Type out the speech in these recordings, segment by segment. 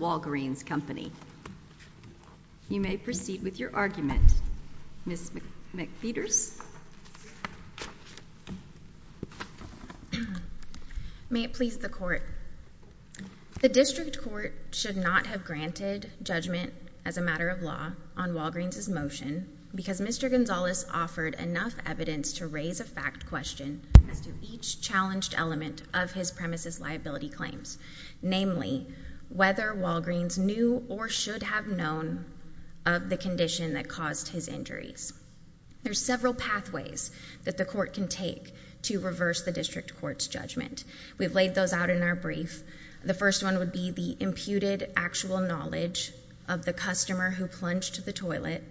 Walgreens Company. You may proceed with your argument. Ms. McPeters. May it please the court. The district court should not have granted judgment as a matter of law on Walgreens' motion because Mr. Gonzales offered enough evidence to raise a fact question as to each challenged element of his premise's liability claims, namely whether Walgreens knew or should have known of the condition that caused his injuries. There's several pathways that the court can take to reverse the district court's judgment. We've laid those out in our brief. The first one would be the imputed actual knowledge of the customer who plunged the toilet.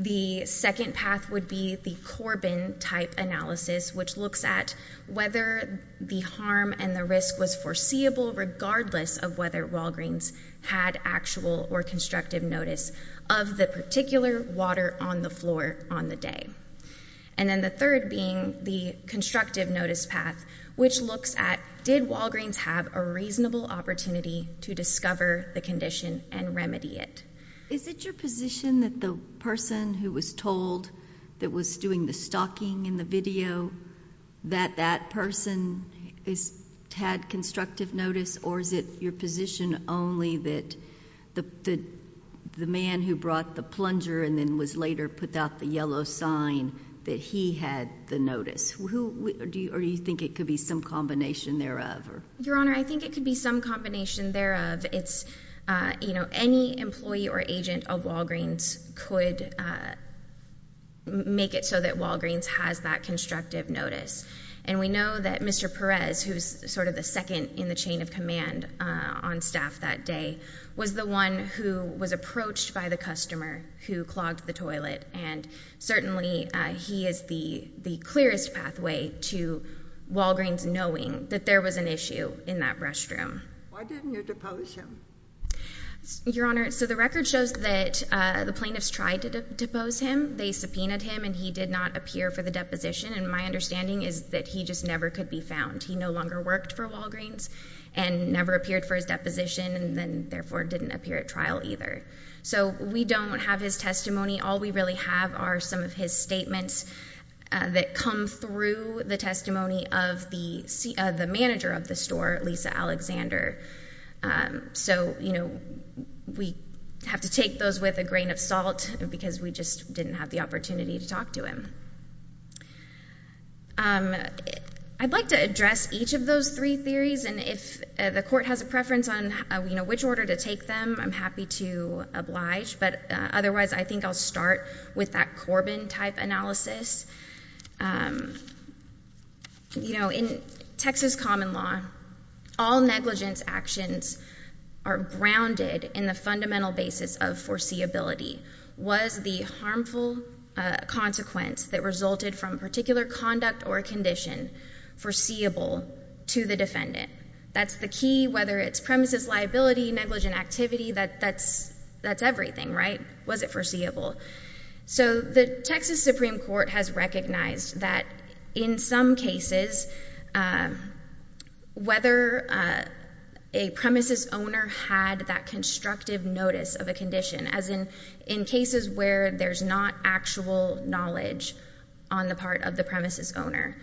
The second path would be the Corbin-type analysis, which looks at whether the harm and the risk was foreseeable regardless of whether Walgreens had actual or constructive notice of the particular water on the floor on the day. And then the third being the constructive notice path, which looks at did Walgreens have a reasonable opportunity to discover the condition and remedy it? Is it your position that the person who was told that was doing the stalking in the video that that person had constructive notice, or is it your position only that the man who brought the plunger and then was later put out the yellow sign that he had the notice? Or do you think it could be some combination thereof? Your Honor, I think it could be some combination thereof. Any employee or agent of Walgreens could make it so that Walgreens has that constructive notice. And we know that Mr. Perez, who's sort of the second in the chain of command on staff that day, was the one who was approached by the customer who clogged the toilet. And certainly he is the clearest pathway to Walgreens knowing that there was an issue in that restroom. Why didn't you depose him? Your Honor, so the record shows that the plaintiffs tried to depose him. They subpoenaed him and he did not appear for the deposition. And my understanding is that he just never could be found. He no longer worked for Walgreens and never appeared for his deposition and then therefore didn't appear at trial either. So we don't have his testimony. All we really have are some of his statements that come through the testimony of the manager of the store, Lisa Alexander. So, you know, we have to take those with a grain of salt because we just didn't have the opportunity to talk to him. I'd like to address each of those three theories. And if the Court has a preference on, you know, to oblige. But otherwise, I think I'll start with that Corbin-type analysis. You know, in Texas common law, all negligence actions are grounded in the fundamental basis of foreseeability. Was the harmful consequence that resulted from particular conduct or condition foreseeable to the defendant? That's the key, whether it's premises liability, negligent activity, that's everything, right? Was it foreseeable? So the Texas Supreme Court has recognized that in some cases, whether a premises owner had that constructive notice of a condition, as in cases where there's not actual knowledge on the part of the premises owner.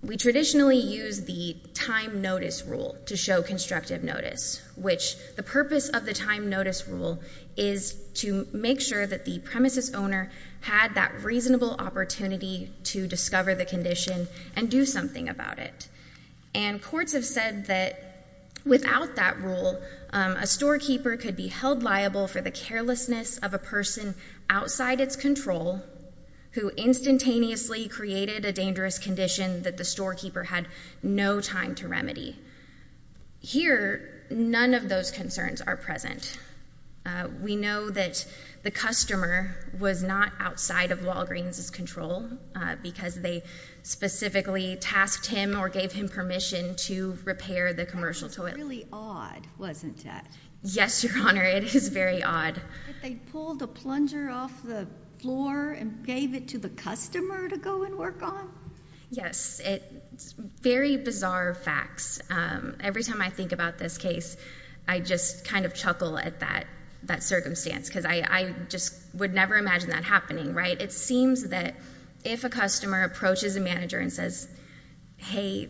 We traditionally use the time notice rule to show constructive notice, which the purpose of the time notice rule is to make sure that the premises owner had that reasonable opportunity to discover the condition and do something about it. And courts have said that without that rule, a storekeeper could be held liable for the carelessness of a person outside its control who instantaneously created a dangerous condition that the storekeeper had no time to remedy. Here, none of those concerns are present. We know that the customer was not outside of Walgreens' control because they specifically tasked him or gave him permission to repair the commercial toilet. That's really odd, wasn't it? Yes, Your Honor, it is very odd. But they pulled a plunger off the floor and gave it to the customer to go and work on? Yes, it's very bizarre facts. Every time I think about this case, I just kind of chuckle at that circumstance because I just would never imagine that happening, right? It seems that if a customer approaches a manager and says, hey,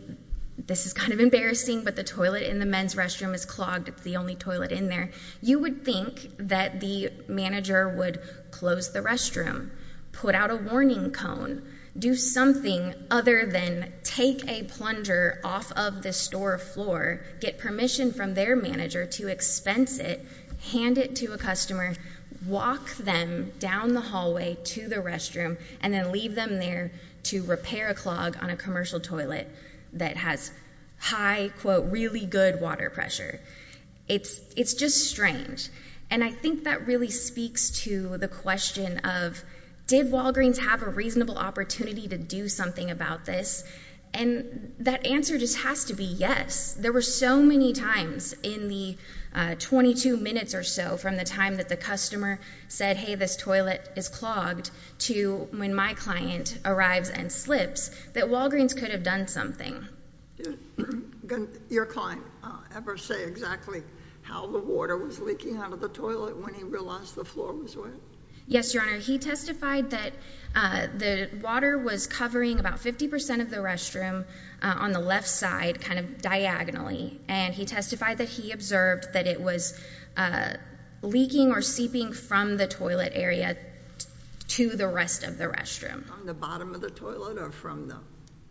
this is kind of embarrassing, but the toilet in the men's restroom is clogged, it's the only toilet in there, you would think that the manager would close the restroom, put out a warning cone, do something other than take a plunger off of the store floor, get permission from their manager to expense it, hand it to a customer, walk them down the hallway to the restroom, and then leave them there to repair a clog on a commercial toilet that has high, quote, really good water pressure. It's just strange. And I think that really speaks to the question of, did Walgreens have a reasonable opportunity to do something about this? And that answer just has to be yes. There were so many times in the 22 minutes or so from the time that the customer said, hey, this toilet is clogged to when my client arrives and slips that Walgreens could have done something. Did your client ever say exactly how the water was leaking out of the toilet when he realized the floor was wet? Yes, Your Honor. He testified that the water was covering about 50% of the restroom on the left side, kind of diagonally. And he testified that he observed that it was leaking or seeping from the toilet area to the rest of the restroom. From the bottom of the toilet or from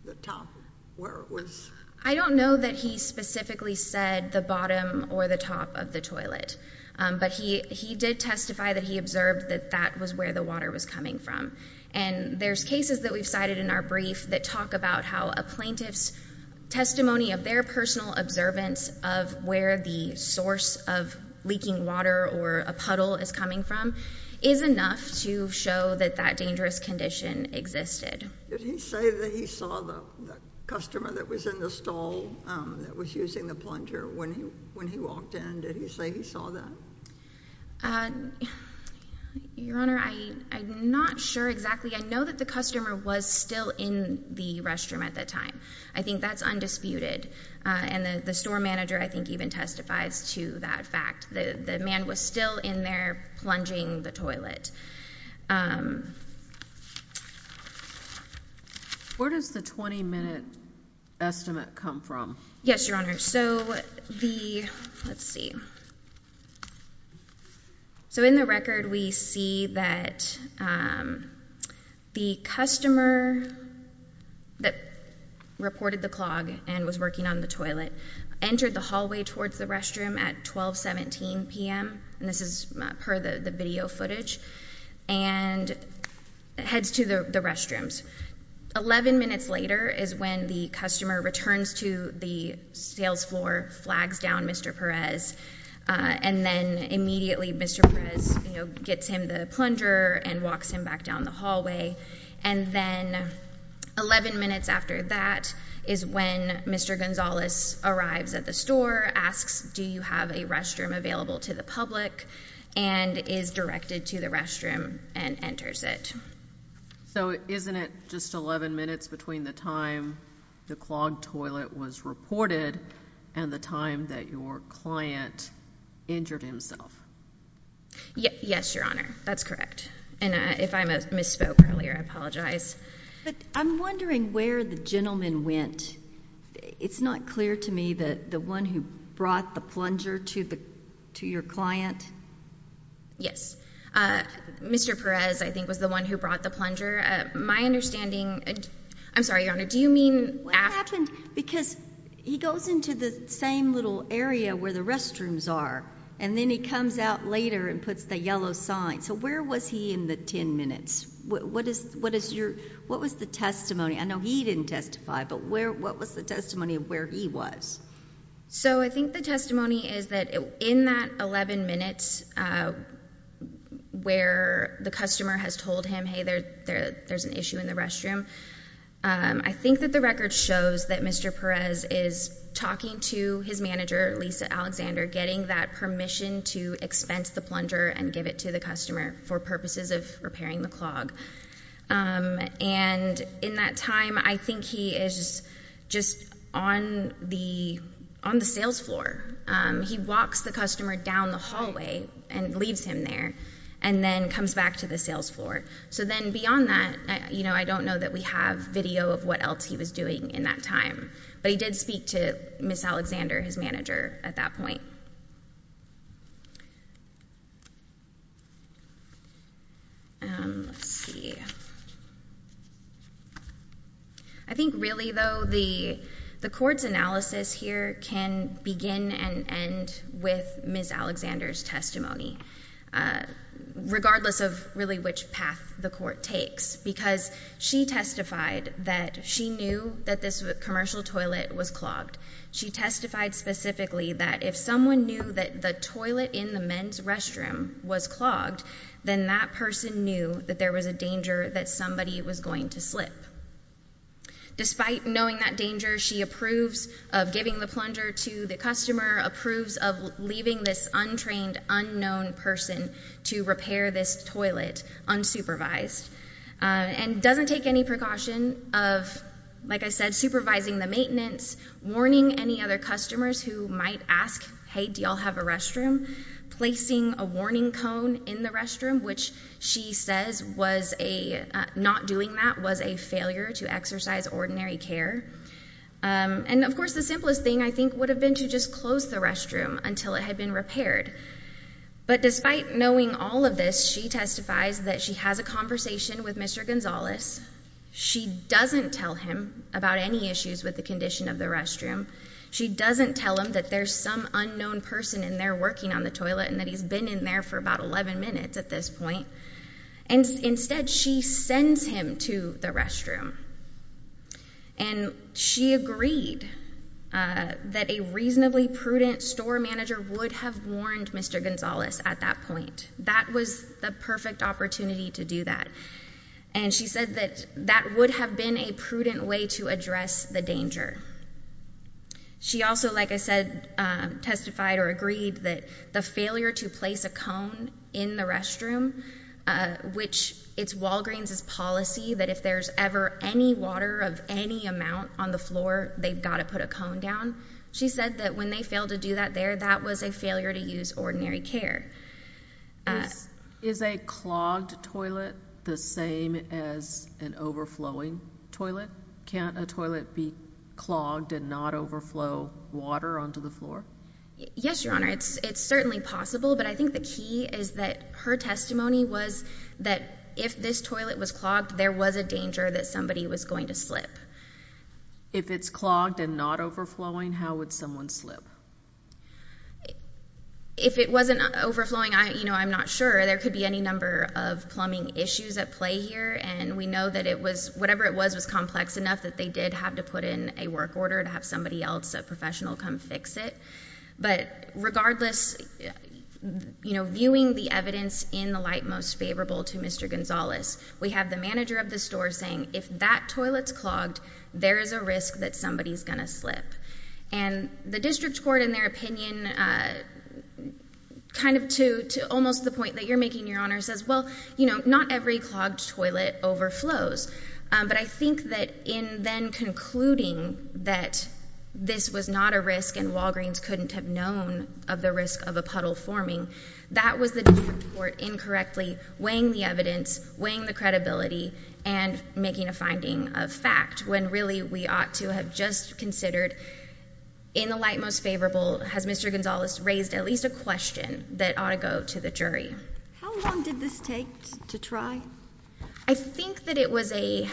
the top where it was? I don't know that he specifically said the bottom or the top of the toilet. But he did testify that he observed that that was where the water was coming from. And there's cases that we've cited in our brief that talk about how a plaintiff's testimony of their personal observance of where the source of leaking water or a puddle is coming from is enough to show that that dangerous condition existed. Did he say that he saw the customer that was in the stall that was using the plunger when he walked in? Did he say he saw that? Your Honor, I'm not sure exactly. I know that the customer was still in the restroom at that time. I think that's undisputed. And the store manager, I think, even testifies to that fact. The man was still in there plunging the toilet. Where does the 20-minute estimate come from? Yes, Your Honor. So the, let's see. So in the record we see that the customer that reported the clog and was working on the toilet entered the hallway towards the restroom at 12.17 p.m., and this is per the video footage, and heads to the restrooms. Eleven minutes later is when the customer returns to the sales floor, flags down Mr. Perez, and then immediately Mr. Perez gets him the plunger and walks him back down the hallway. And then 11 minutes after that is when Mr. Gonzalez arrives at the store, asks, do you have a restroom available to the public, and is directed to the restroom and enters it. So isn't it just 11 minutes between the time the clogged toilet was reported and the time that your client injured himself? Yes, Your Honor. That's correct. And if I misspoke earlier, I apologize. But I'm wondering where the gentleman went. It's not clear to me that the one who brought the plunger to your client. Yes. Mr. Perez, I think, was the one who brought the plunger. My understanding, I'm sorry, Your Honor, do you mean? What happened, because he goes into the same little area where the restrooms are, and then he comes out later and puts the yellow sign. So where was he in the 10 minutes? What is the testimony? I know he didn't testify, but what was the testimony of where he was? So I think the testimony is that in that 11 minutes where the customer has told him, hey, there's an issue in the restroom, I think that the record shows that Mr. Perez is talking to his manager, Lisa Alexander, getting that permission to expense the plunger and give it to the customer for purposes of repairing the clog. And in that time, I think he is just on the sales floor. He walks the customer down the hallway and leaves him there, and then comes back to the sales floor. So then beyond that, I don't know that we have video of what else he was doing in that time. But he did speak to Ms. Alexander, his manager, at that point. Let's see. I think really, though, the court's analysis here can begin and end with Ms. Alexander's testimony, regardless of really which path the court takes, because she testified that she knew that this commercial toilet was clogged. She testified specifically that if someone knew that the toilet in the men's restroom was clogged, then that person knew that there was a danger that somebody was going to slip. Despite knowing that danger, she approves of giving the plunger to the customer, approves of leaving this untrained, unknown person to repair this toilet unsupervised, and doesn't take any precaution of, like I said, supervising the maintenance, warning any other customers who might ask, hey, do y'all have a restroom, placing a warning cone in the restroom, which she says was a, not doing that was a failure to exercise ordinary care. And of course, the simplest thing, I think, would have been to just close the restroom until it had been repaired. But despite knowing all of this, she testifies that she has a conversation with Mr. Gonzalez. She doesn't tell him about any issues with the condition of the restroom. She doesn't tell him that there's some unknown person in there working on the toilet and that he's been in there for about 11 minutes at this point. Instead, she sends him to the restroom. And she agreed that a reasonable prudent store manager would have warned Mr. Gonzalez at that point. That was the perfect opportunity to do that. And she said that that would have been a prudent way to address the danger. She also, like I said, testified or agreed that the failure to place a cone in the restroom, which it's Walgreens' policy that if there's ever any water of any amount on the floor, they've got to put a cone down. She said that when they failed to do that there, that was a failure to use ordinary care. Is a clogged toilet the same as an overflowing toilet? Can't a toilet be clogged and not overflow water onto the floor? Yes, Your Honor. It's certainly possible. But I think the key is that her testimony was that if this toilet was clogged, there was a danger that somebody was going to slip. If it's clogged and not overflowing, how would someone slip? If it wasn't overflowing, I'm not sure. There could be any number of plumbing issues at play here. And we know that it was, whatever it was, was complex enough that they did have to put in a work order to have somebody else, a professional, come fix it. But regardless, you know, viewing the evidence in the light most favorable to Mr. Gonzalez, we have the manager of the store saying, if that toilet's clogged, there is a risk that somebody's going to slip. And the district court, in their opinion, kind of to almost the point that you're making, Your Honor, says, well, you know, not every clogged toilet overflows. But I think that in then concluding that this was not a risk and Walgreens couldn't have known of the risk of a puddle forming, that was the district court incorrectly weighing the evidence, weighing the credibility, and making a finding of fact, when really we ought to have just considered, in the light most favorable, has Mr. Gonzalez raised at least a question that ought to go to the jury? How long did this take to try? I think that it was a,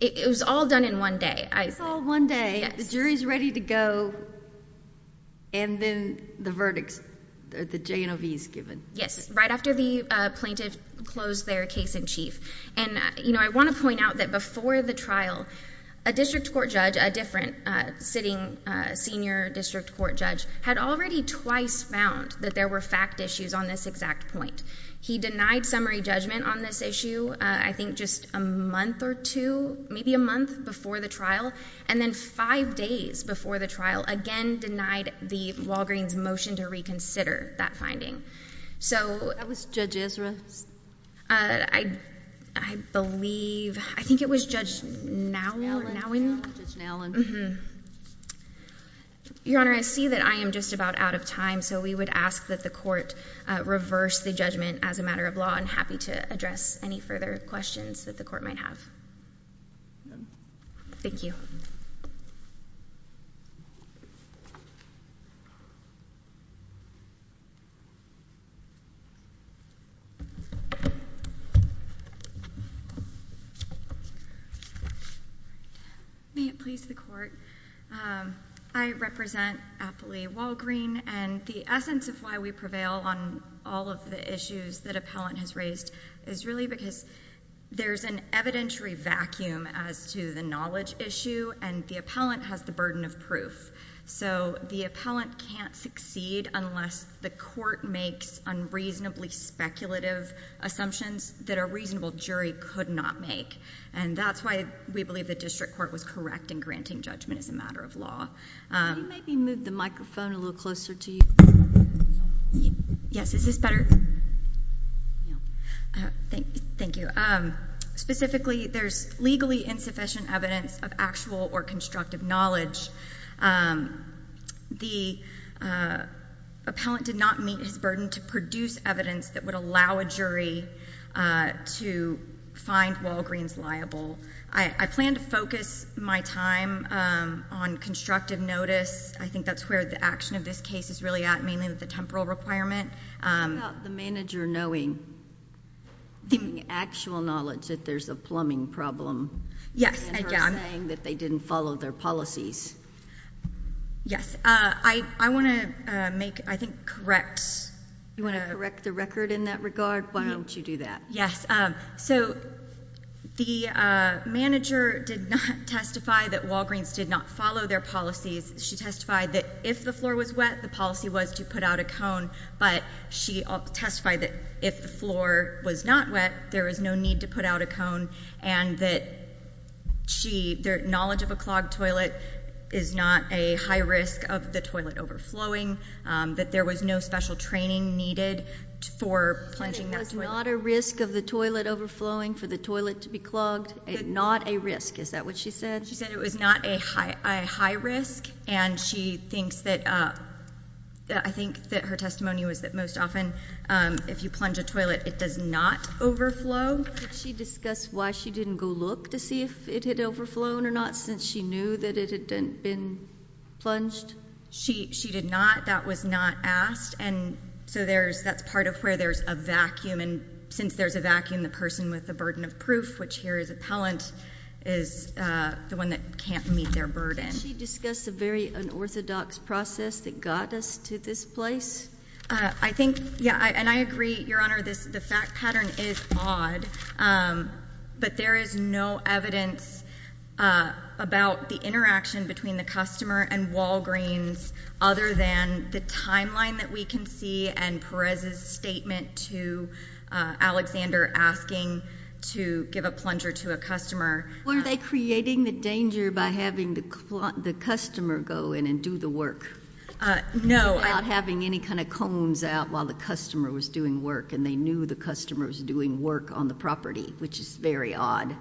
it was all done in one day. It was all one day. The jury's ready to go. And then the verdicts, the J&OV's given. Yes, right after the plaintiff closed their case in chief. And, you know, I want to point out that before the trial, a district court judge, a different sitting senior district court judge, had already twice found that there were fact issues on this exact point. He denied summary judgment on this issue, I think just a month or two, maybe a month before the trial, and then five days before the trial, again denied the Walgreens' motion to reconsider that finding. So that was Judge Ezra? I believe, I think it was Judge Nowen? Judge Nowen. Your Honor, I see that I am just about out of time, so we would ask that the court reverse the judgment as a matter of law. I'm happy to address any further questions that the jury might have. Thank you. May it please the Court. I represent Appley Walgreen, and the essence of why we prevail on all of the issues that appellant has raised is really because there's an evidentiary vacuum as to the knowledge issue, and the appellant has the burden of proof. So the appellant can't succeed unless the court makes unreasonably speculative assumptions that a reasonable jury could not make. And that's why we believe the district court was correct in granting judgment as a matter of law. Could you maybe move the microphone a little closer to you? Yes, is this better? Thank you. Specifically, there's legally insufficient evidence of actual or constructive knowledge. The appellant did not meet his burden to produce evidence that would allow a jury to find Walgreen's liable. I plan to focus my time on constructive notice. I think that's where the action of this case is really at, mainly with the temporal requirement. What about the manager knowing, the actual knowledge that there's a plumbing problem? Yes, again. And her saying that they didn't follow their policies? Yes. I want to make, I think, correct. You want to correct the record in that regard? Why don't you do that? Yes. So the manager did not testify that Walgreen's did not follow their policies. She testified that if the floor was wet, the policy was to put out a cone, but she testified that if the floor was not wet, there was no need to put out a cone, and that their knowledge of a clogged toilet is not a high risk of the toilet overflowing, that there was no special training needed for plunging that toilet. Plunging was not a risk of the toilet overflowing for the toilet to be clogged, not a risk. Is that what she said? She said it was not a high risk, and she thinks that, I think that her testimony was that most often, if you plunge a toilet, it does not overflow. Did she discuss why she didn't go look to see if it had overflown or not, since she knew that it had been plunged? She did not. That was not asked, and so there's, that's part of where there's a vacuum, and since there's a vacuum, the person with the burden of proof, which here is appellant, is the one that can't meet their burden. Did she discuss a very unorthodox process that got us to this place? I think, yeah, and I agree, Your Honor, the fact pattern is odd, but there is no evidence about the interaction between the customer and Walgreens other than the timeline that we can see and Perez's statement to Alexander asking to give a plunger to a customer. Were they creating the danger by having the customer go in and do the work? No. Without having any kind of cones out while the customer was doing work, and they knew the customer was doing work on the property, which is very odd.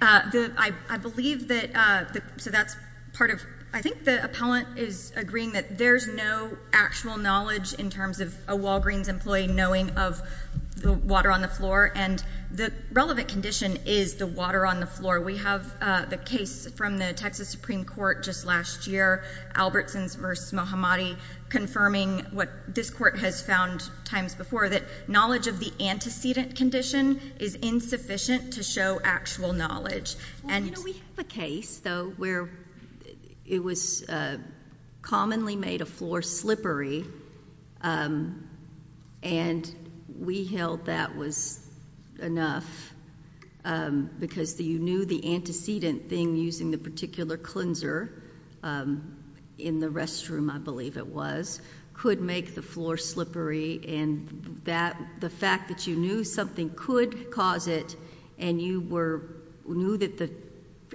I believe that, so that's part of, I think the appellant is agreeing that there's no actual knowledge in terms of a Walgreens employee knowing of the water on the floor, and the relevant condition is the water on the floor. We have the case from the Texas Supreme Court just last year, Albertson v. Mohammadi, confirming what this court has found times before, that knowledge of the antecedent condition is insufficient to show actual knowledge. You know, we have a case, though, where it was commonly made a floor slippery, and we felt that was enough, because you knew the antecedent thing using the particular cleanser in the restroom, I believe it was, could make the floor slippery, and the fact that you knew something could cause it, and you knew that the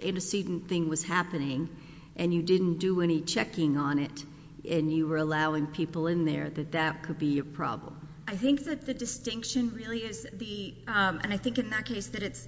antecedent thing was happening, and you didn't do any checking on it, and you were allowing people in there, that that could be a problem. I think that the distinction really is the, and I think in that case that it's,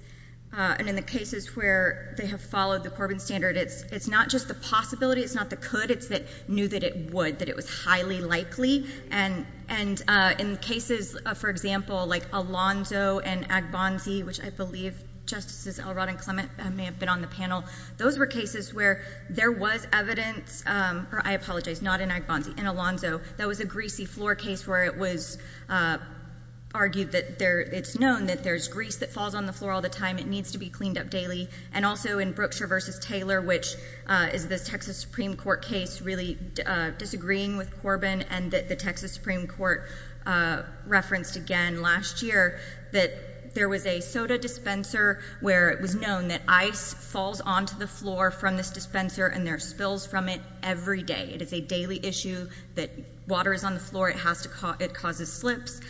and in the cases where they have followed the Corbin standard, it's not just the possibility, it's not the could, it's the knew that it would, that it was highly likely, and in cases, for example, like Alonzo and Agbanzi, which I believe Justices Elrod and Clement may have been on the panel, those were cases where there was evidence, or I apologize, not in argued that there, it's known that there's grease that falls on the floor all the time, it needs to be cleaned up daily, and also in Brookshire versus Taylor, which is the Texas Supreme Court case, really disagreeing with Corbin, and that the Texas Supreme Court referenced again last year, that there was a soda dispenser where it was known that ice falls onto the floor from this dispenser, and there are spills from it every day. It is a daily issue that water is on the floor, it has to, it causes slips.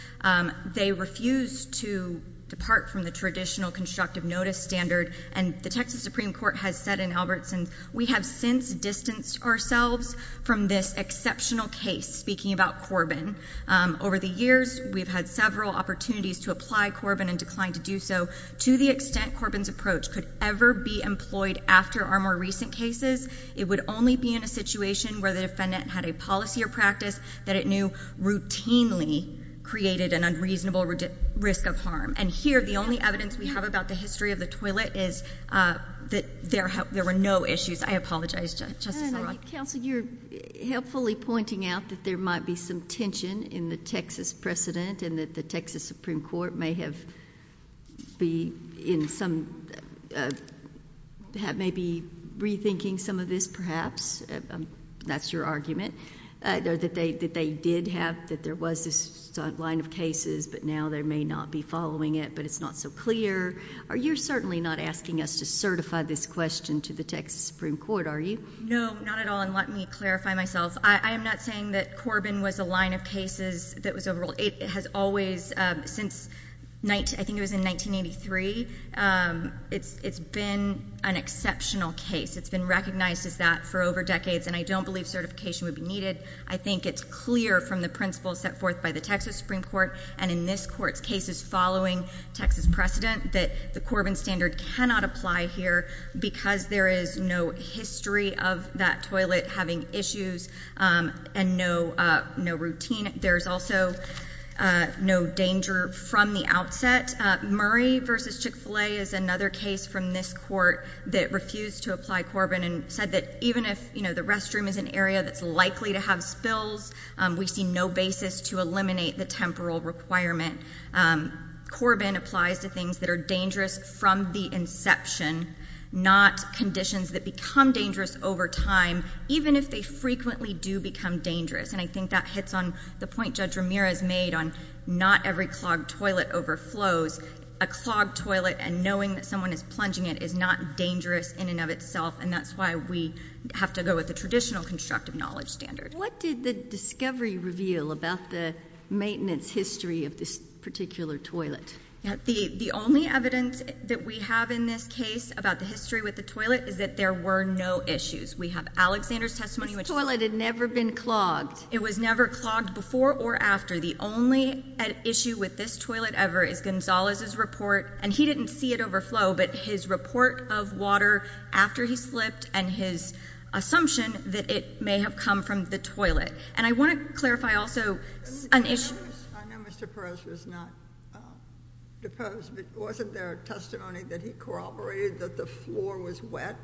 They refuse to depart from the traditional constructive notice standard, and the Texas Supreme Court has said in Albertson's, we have since distanced ourselves from this exceptional case, speaking about Corbin. Over the years, we've had several opportunities to apply Corbin and declined to do so. To the extent Corbin's approach could ever be employed after our more recent cases, it would only be in a situation where the defendant had a policy or practice that it knew routinely created an unreasonable risk of harm. And here, the only evidence we have about the history of the toilet is that there were no issues. I apologize, Justice O'Rourke. And I think, Counsel, you're helpfully pointing out that there might be some tension in the Texas precedent, and that the Texas Supreme Court may have been in some, maybe rethinking some of this perhaps, that's your argument, that they did have, that there was this line of cases, but now they may not be following it, but it's not so clear. Are you certainly not asking us to certify this question to the Texas Supreme Court, are you? No, not at all, and let me clarify myself. I am not saying that Corbin was a line of cases that was overruled. It has always, since, I think it was in 1983, it's been an exceptional case. It's been recognized as that for over decades, and I don't believe certification would be needed. I think it's clear from the principles set forth by the Texas Supreme Court, and in this Court's cases following Texas precedent, that the Corbin standard cannot apply here because there is no history of that toilet having issues and no routine. There's also no danger from the outset. Murray v. Chick-fil-A is another case from this Court that refused to apply Corbin and said that even if the restroom is an area that's likely to have spills, we see no basis to eliminate the temporal requirement. Corbin applies to things that are dangerous from the inception, not conditions that become dangerous over time, even if they frequently do become dangerous, and I think that hits on the point Judge Ramirez made on not every clogged toilet overflows. A clogged toilet and knowing that someone is plunging it is not dangerous in and of itself, and that's why we have to go with the traditional constructive knowledge standard. What did the discovery reveal about the maintenance history of this particular toilet? The only evidence that we have in this case about the history with the toilet is that there were no issues. We have Alexander's testimony, which— This toilet had never been clogged. It was never clogged before or after. The only issue with this toilet ever is Gonzalez's report, and he didn't see it overflow, but his report of water after he slipped and his assumption that it may have come from the toilet, and I want to clarify also an issue— I know Mr. Perez was not deposed, but wasn't there a testimony that he corroborated that the floor was wet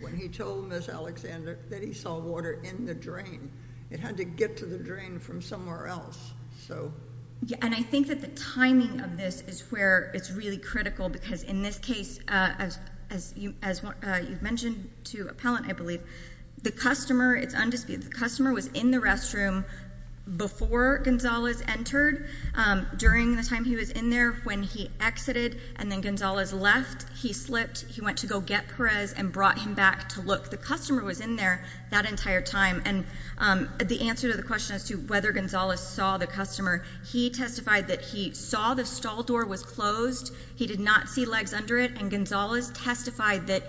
when he told Ms. Alexander that he saw water in the drain? It had to get to the drain from somewhere else, so— Yeah, and I think that the timing of this is where it's really critical because in this case, as you mentioned to Appellant, I believe, the customer, it's undisputed, the customer was in the restroom before Gonzalez entered during the time he was in there. When he exited and then Gonzalez left, he slipped. He went to go get Perez and brought him back to look. The customer was in there that entire time, and the answer to the question as to whether Gonzalez saw the customer, he testified that he saw the stall door was closed. He did not see legs under it, and Gonzalez testified that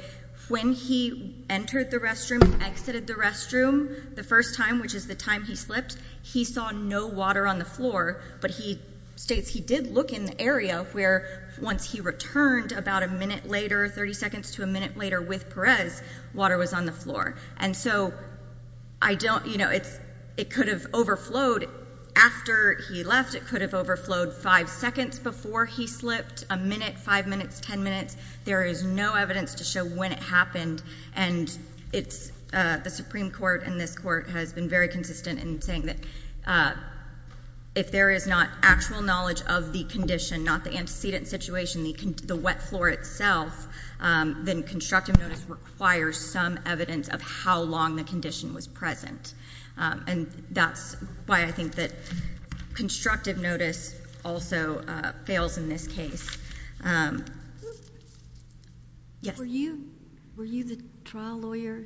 when he entered the restroom and exited the restroom the first time, which is the time he slipped, he saw no water on the floor, but he states he did look in the area where once he returned about a minute later, 30 seconds to a minute later with Perez, water was on the floor. And so I don't, you know, it's, it could have overflowed after he left. It could have overflowed five seconds before he slipped, a minute, five minutes, ten minutes. There is no evidence to show when it happened, and it's, the Supreme Court and this Court has been very consistent in saying that if there is not actual knowledge of the condition, not the antecedent situation, the wet floor itself, then constructive notice requires some evidence of how long the condition was present. And that's why I think that constructive notice also fails in this case. Yes? Were you the trial lawyer?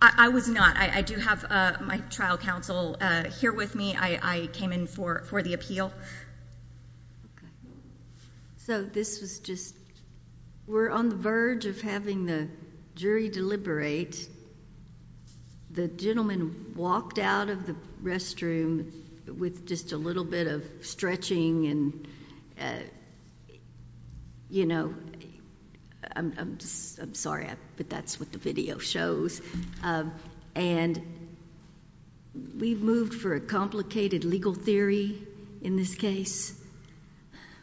I was not. I do have my trial counsel here with me. I came in for the appeal. So this was just, we're on the verge of having the jury deliberate. The gentleman walked out of the restroom with just a little bit of stretching and, you know, I'm sorry, but that's what the video shows. And we've moved for a complicated legal theory in this case.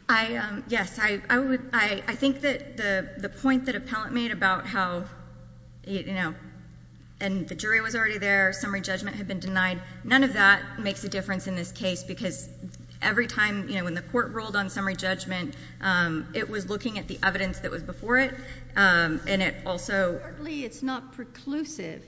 I, yes, I would, I think that the point that Appellant made about how, you know, and the jury was already there, summary judgment had been denied, none of that makes a difference in this case because every time, you know, when the Court ruled on summary judgment, it was looking at the evidence that was before it, and it also... It's not preclusive,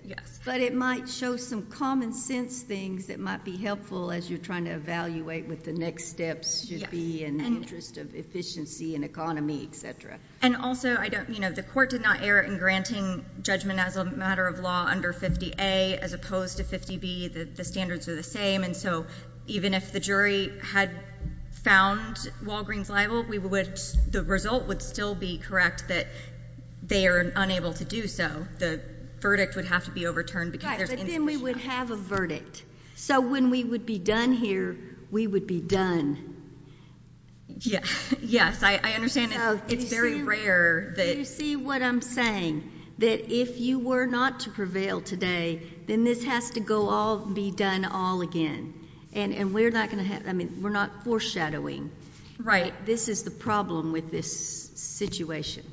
but it might show some common sense things that might be helpful as you're trying to evaluate what the next steps should be in the interest of efficiency and economy, et cetera. And also, I don't, you know, the Court did not err in granting judgment as a matter of law under 50A as opposed to 50B. The standards are the same, and so even if the jury had found Walgreens liable, we would, the result would still be correct that they are unable to do so. The verdict would have to be overturned because there's insufficient... If it could be done here, we would be done. Yes, I understand it's very rare that... You see what I'm saying, that if you were not to prevail today, then this has to go all, be done all again, and we're not going to have, I mean, we're not foreshadowing... Right.... this is the problem with this situation.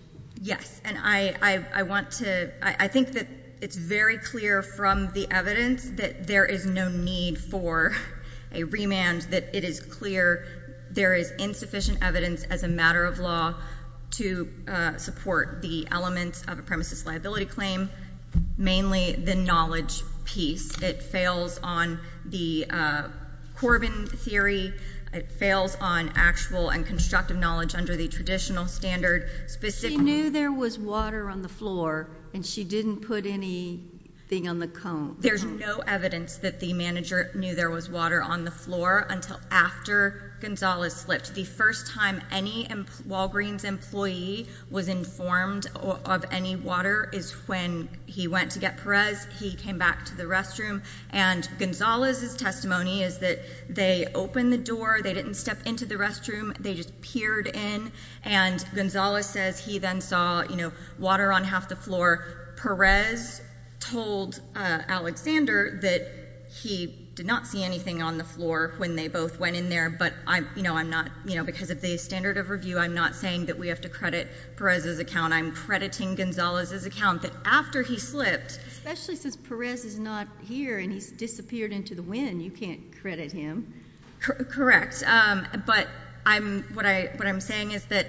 Yes, and I want to, I think that it's very clear from the evidence that there is no need for a remand, that it is clear there is insufficient evidence as a matter of law to support the elements of a premises liability claim, mainly the knowledge piece. It fails on the Corbin theory. It fails on actual and constructive knowledge under the traditional standard, specifically... She knew there was water on the floor, and she didn't put anything on the cone. There's no evidence that the manager knew there was water on the floor until after Gonzalez slipped. The first time any Walgreens employee was informed of any water is when he went to get Perez. He came back to the restroom, and Gonzalez's testimony is that they opened the door. They didn't step into the restroom. They just peered in, and Gonzalez says he then saw water on half the floor. Perez told Alexander that he did not see anything on the floor when they both went in there, but I'm not... because of the standard of review, I'm not saying that we have to credit Perez's account. I'm crediting Gonzalez's account that after he slipped... Especially since Perez is not here, and he's disappeared into the wind. You can't credit him. Correct, but what I'm saying is that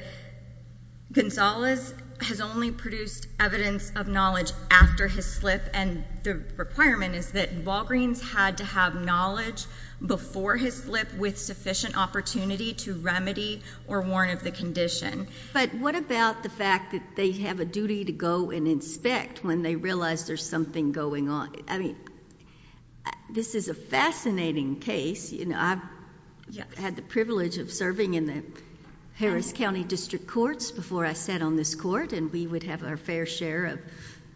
Gonzalez has only produced evidence of knowledge after his slip, and the requirement is that Walgreens had to have knowledge before his slip with sufficient opportunity to remedy or warn of the condition. But what about the fact that they have a duty to go and inspect when they realize there's something going on? I mean, this is a fascinating case. You know, I've had the privilege of serving in the Harris County District Courts before I sat on this court, and we would have our fair share of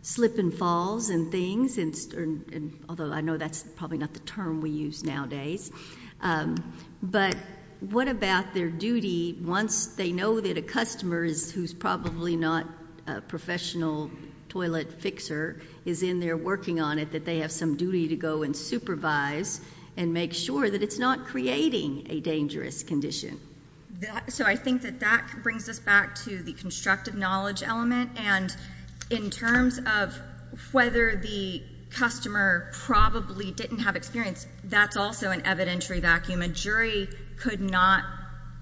slip and falls and things, although I know that's probably not the term we use nowadays. But what about their duty once they know that a customer who's probably not a professional toilet fixer is in there working on it, that they have some duty to go and supervise and make sure that it's not creating a dangerous condition? So I think that that brings us back to the constructive knowledge element, and in terms of whether the customer probably didn't have experience, that's also an evidentiary vacuum. A jury could not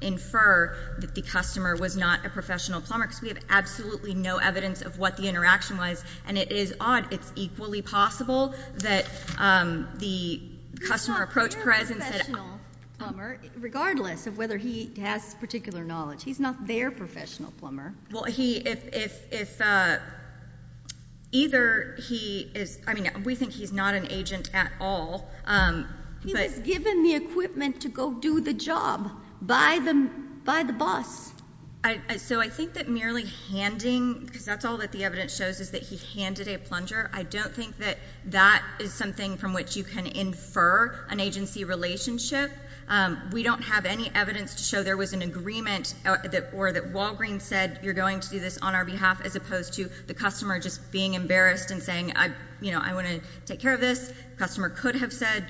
infer that the customer was not a professional plumber, because we have absolutely no evidence of what the interaction was, and it is odd. It's equally possible that the customer approached Perez and said — He's not their professional plumber, regardless of whether he has particular knowledge. He's not their professional plumber. Well, he — if either he is — I mean, we think he's not an agent at all, but — So I think that merely handing — because that's all that the evidence shows, is that he handed a plunger. I don't think that that is something from which you can infer an agency relationship. We don't have any evidence to show there was an agreement or that Walgreen said, you're going to do this on our behalf, as opposed to the customer just being embarrassed and saying, you know, I want to take care of this. The customer could have said,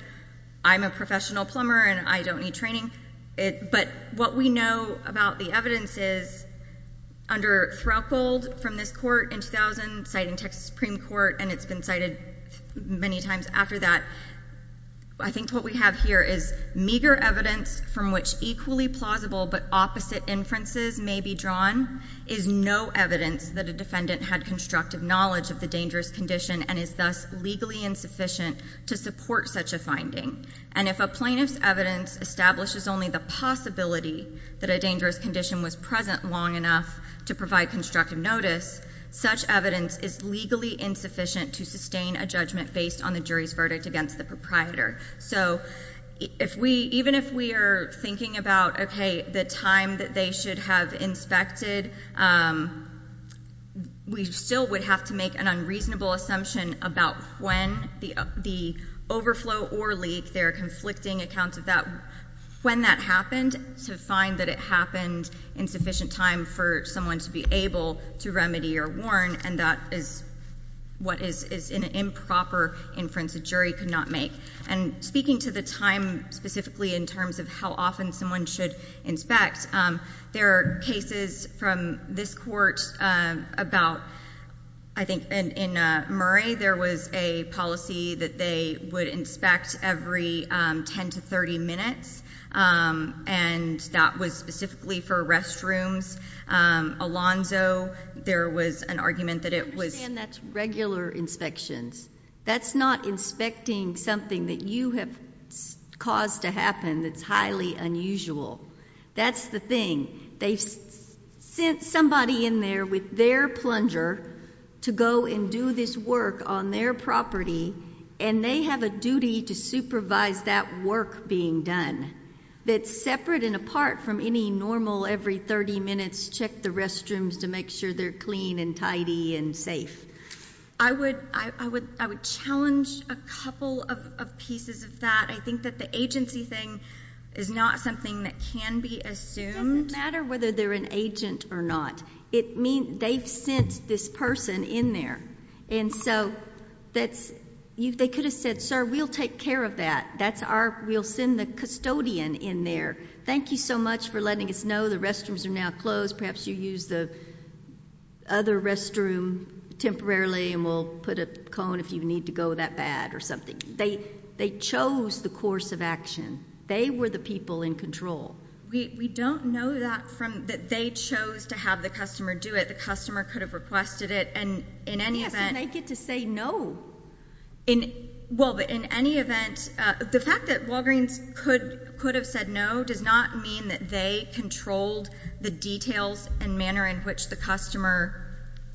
I'm a plumber, I don't need training. But what we know about the evidence is, under Threlkeld from this court in 2000, citing Texas Supreme Court, and it's been cited many times after that, I think what we have here is meager evidence from which equally plausible but opposite inferences may be drawn is no evidence that a defendant had constructive knowledge of the dangerous condition and is thus legally insufficient to support such a finding. And if a plaintiff's evidence establishes only the possibility that a dangerous condition was present long enough to provide constructive notice, such evidence is legally insufficient to sustain a judgment based on the jury's verdict against the proprietor. So even if we are thinking about, okay, the time that they should have inspected, we still would have to make an unreasonable assumption about when the overflow or leak, their conflicting accounts of that, when that happened, to find that it happened in sufficient time for someone to be able to remedy or warn, and that is what is an improper inference a jury could not make. And speaking to the time specifically in terms of how often someone should inspect, there are cases from this court about, I think in Murray there was a policy that they would inspect every 10 to 30 minutes, and that was specifically for restrooms. Alonzo, there was an argument that it was— I understand that's regular inspections. That's not inspecting something that you have caused to happen that's highly unusual. That's the thing. They've sent somebody in there with their plunger to go and do this work on their property, and they have a duty to supervise that work being done. That's separate and apart from any normal every 30 minutes check the restrooms to make sure they're clean and tidy and safe. I would challenge a couple of pieces of that. I think that the agency thing is not something that can be assumed. It doesn't matter whether they're an agent or not. It means they've sent this person in there, and so that's—they could have said, sir, we'll take care of that. That's our—we'll send the custodian in there. Thank you so much for letting us know the restrooms are now closed. Perhaps you use the other restroom temporarily, and we'll put a cone if you need to go that bad or something. They chose the course of action. They were the people in control. We don't know that from—that they chose to have the customer do it. The customer could have requested it, and in any event— Yes, and they get to say no. Well, but in any event, the fact that Walgreens could have said no does not mean that they controlled the details and manner in which the customer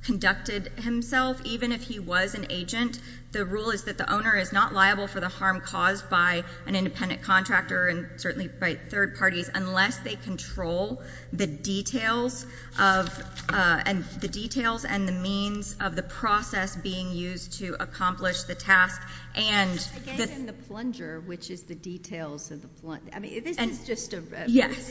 conducted himself, even if he was an agent. The rule is that the owner is not liable for the harm caused by an independent contractor and certainly by third parties unless they control the details of—and the details and the means of the process being used to accomplish the task and— Again, in the plunger, which is the details of the—I mean, this is just a— Yes.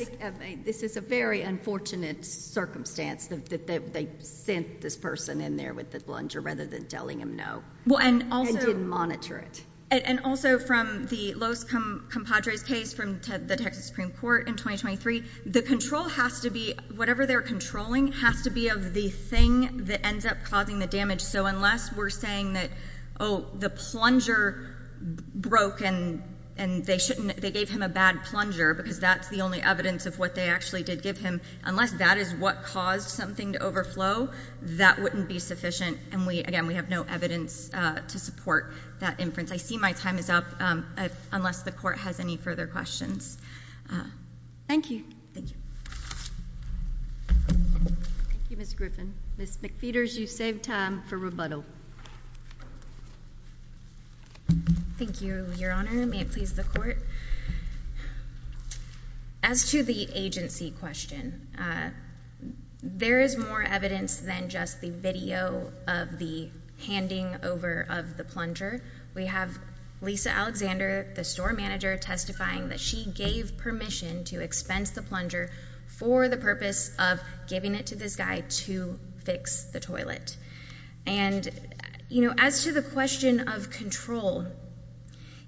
This is a very unfortunate circumstance that they sent this person in there with the plunger rather than telling him no. Well, and also— And didn't monitor it. And also from the Los Compadres case from the Texas Supreme Court in 2023, the control has to be—whatever they're controlling has to be of the thing that ends up causing the damage. So unless we're saying that, oh, the plunger broke and they shouldn't—they gave him a bad plunger because that's the only evidence of what they actually did give him, unless that is what caused something to overflow, that wouldn't be sufficient. And we—again, we have no evidence to support that inference. I see my time is up unless the Court has any further questions. Thank you. Thank you. Thank you, Ms. Griffin. Ms. McPheeters, you've saved time for rebuttal. Thank you, Your Honor. May it please the Court. As to the agency question, there is more evidence than just the video of the handing over of the plunger. We have Lisa Alexander, the store manager, testifying that she gave permission to expense the plunger for the purpose of giving it to this guy to fix the toilet. And, you know, as to the question of control,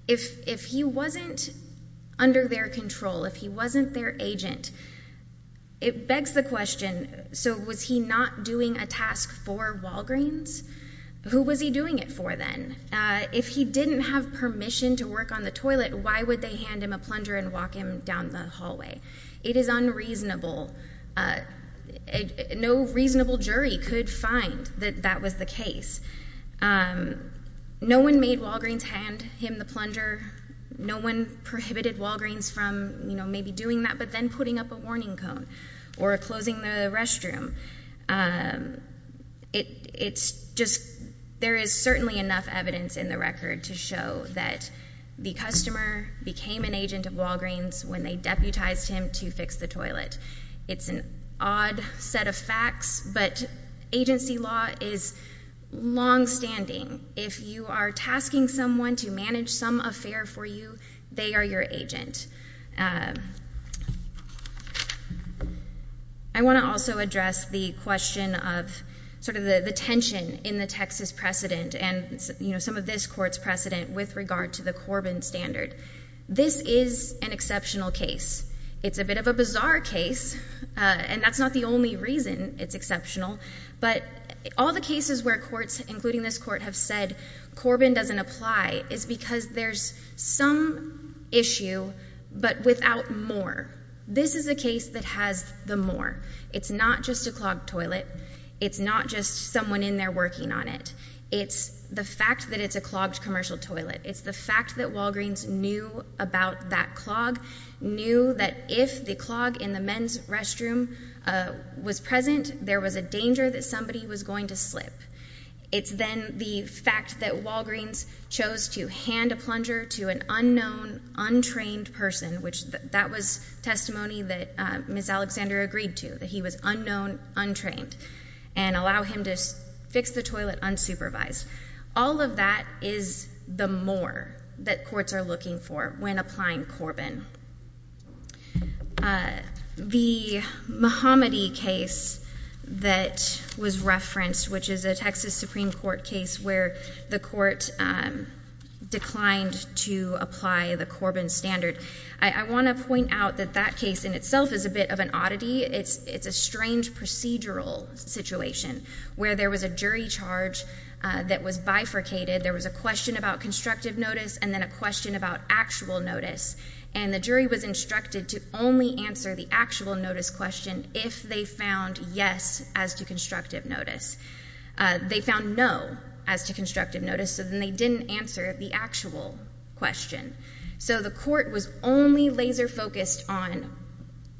if he wasn't under their control, if he wasn't their agent, it begs the question, so was he not doing a task for Walgreens? Who was he doing it for then? If he didn't have permission to work on the toilet, why would they hand him a plunger and walk him down the hallway? It is unreasonable. No reasonable jury could find that that was the case. No one made Walgreens hand him the plunger. No one prohibited Walgreens from, you know, maybe doing that, but then putting up a warning cone or closing the restroom. It's just, there is certainly enough evidence in the record to show that the customer became an agent of Walgreens when they deputized him to fix the toilet. It's an odd set of facts, but agency law is longstanding. If you are tasking someone to manage some affair for you, they are your agent. I want to also address the question of sort of the tension in the Texas precedent and, you know, some of this court's precedent with regard to the Corbin standard. This is an exceptional case. It's a bit of a bizarre case, and that's not the only reason it's exceptional. But all the cases where courts, including this court, have said Corbin doesn't apply is because there's some issue, but without more. This is a case that has the more. It's not just a clogged toilet. It's not just someone in there working on it. It's the fact that it's a clogged commercial toilet. It's the fact that Walgreens knew about that clog, knew that if the clog in the men's restroom was present, there was a danger that somebody was going to slip. It's then the fact that Walgreens chose to hand a plunger to an unknown, untrained person, which that was testimony that Ms. Alexander agreed to, that he was unknown, untrained, and allow him to fix the toilet unsupervised. All of that is the more that courts are looking for when applying Corbin. The Muhammadi case that was referenced, which is a Texas Supreme Court case where the court declined to apply the Corbin standard, I want to point out that that case in itself is a bit of an oddity. It's a strange procedural situation where there was a jury charge that was bifurcated. There was a question about constructive notice and then a question about actual notice, and the jury was instructed to only answer the actual notice question if they found yes as to constructive notice. They found no as to constructive notice, so then they didn't answer the actual question. So the court was only laser focused on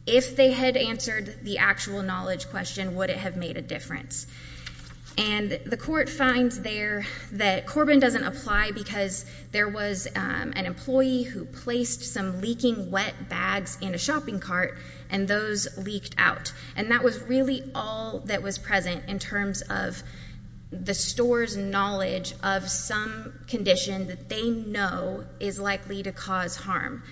if they had answered the actual knowledge question, would it have made a difference? And the court finds there that Corbin doesn't apply because there was an employee who placed some leaking wet bags in a shopping cart, and those leaked out. And that was really all that was present in terms of the store's knowledge of some condition that they know is likely to cause harm.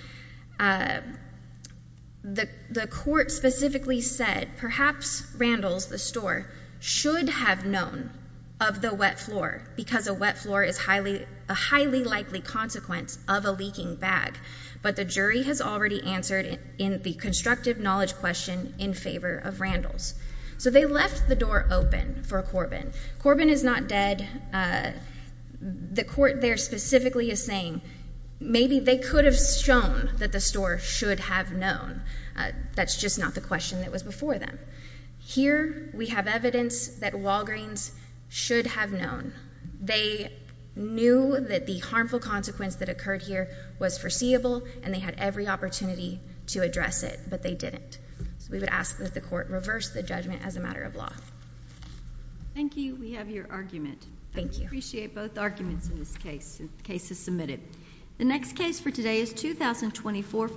The court specifically said perhaps Randalls, the store, should have known of the wet floor because a wet floor is a highly likely consequence of a leaking bag, but the jury has already answered the constructive knowledge question in favor of Randalls. So they left the door open for Corbin. Corbin is not dead. The court there specifically is saying maybe they could have shown that the store should have known. That's just not the question that was before them. Here we have evidence that Walgreens should have known. They knew that the harmful consequence that occurred here was foreseeable, and they had every opportunity to address it, but they didn't. So we would ask that the court reverse the judgment as a matter of law. Thank you. We have your argument. Thank you. I appreciate both arguments in this case. The case is submitted. The next case for today is 2024.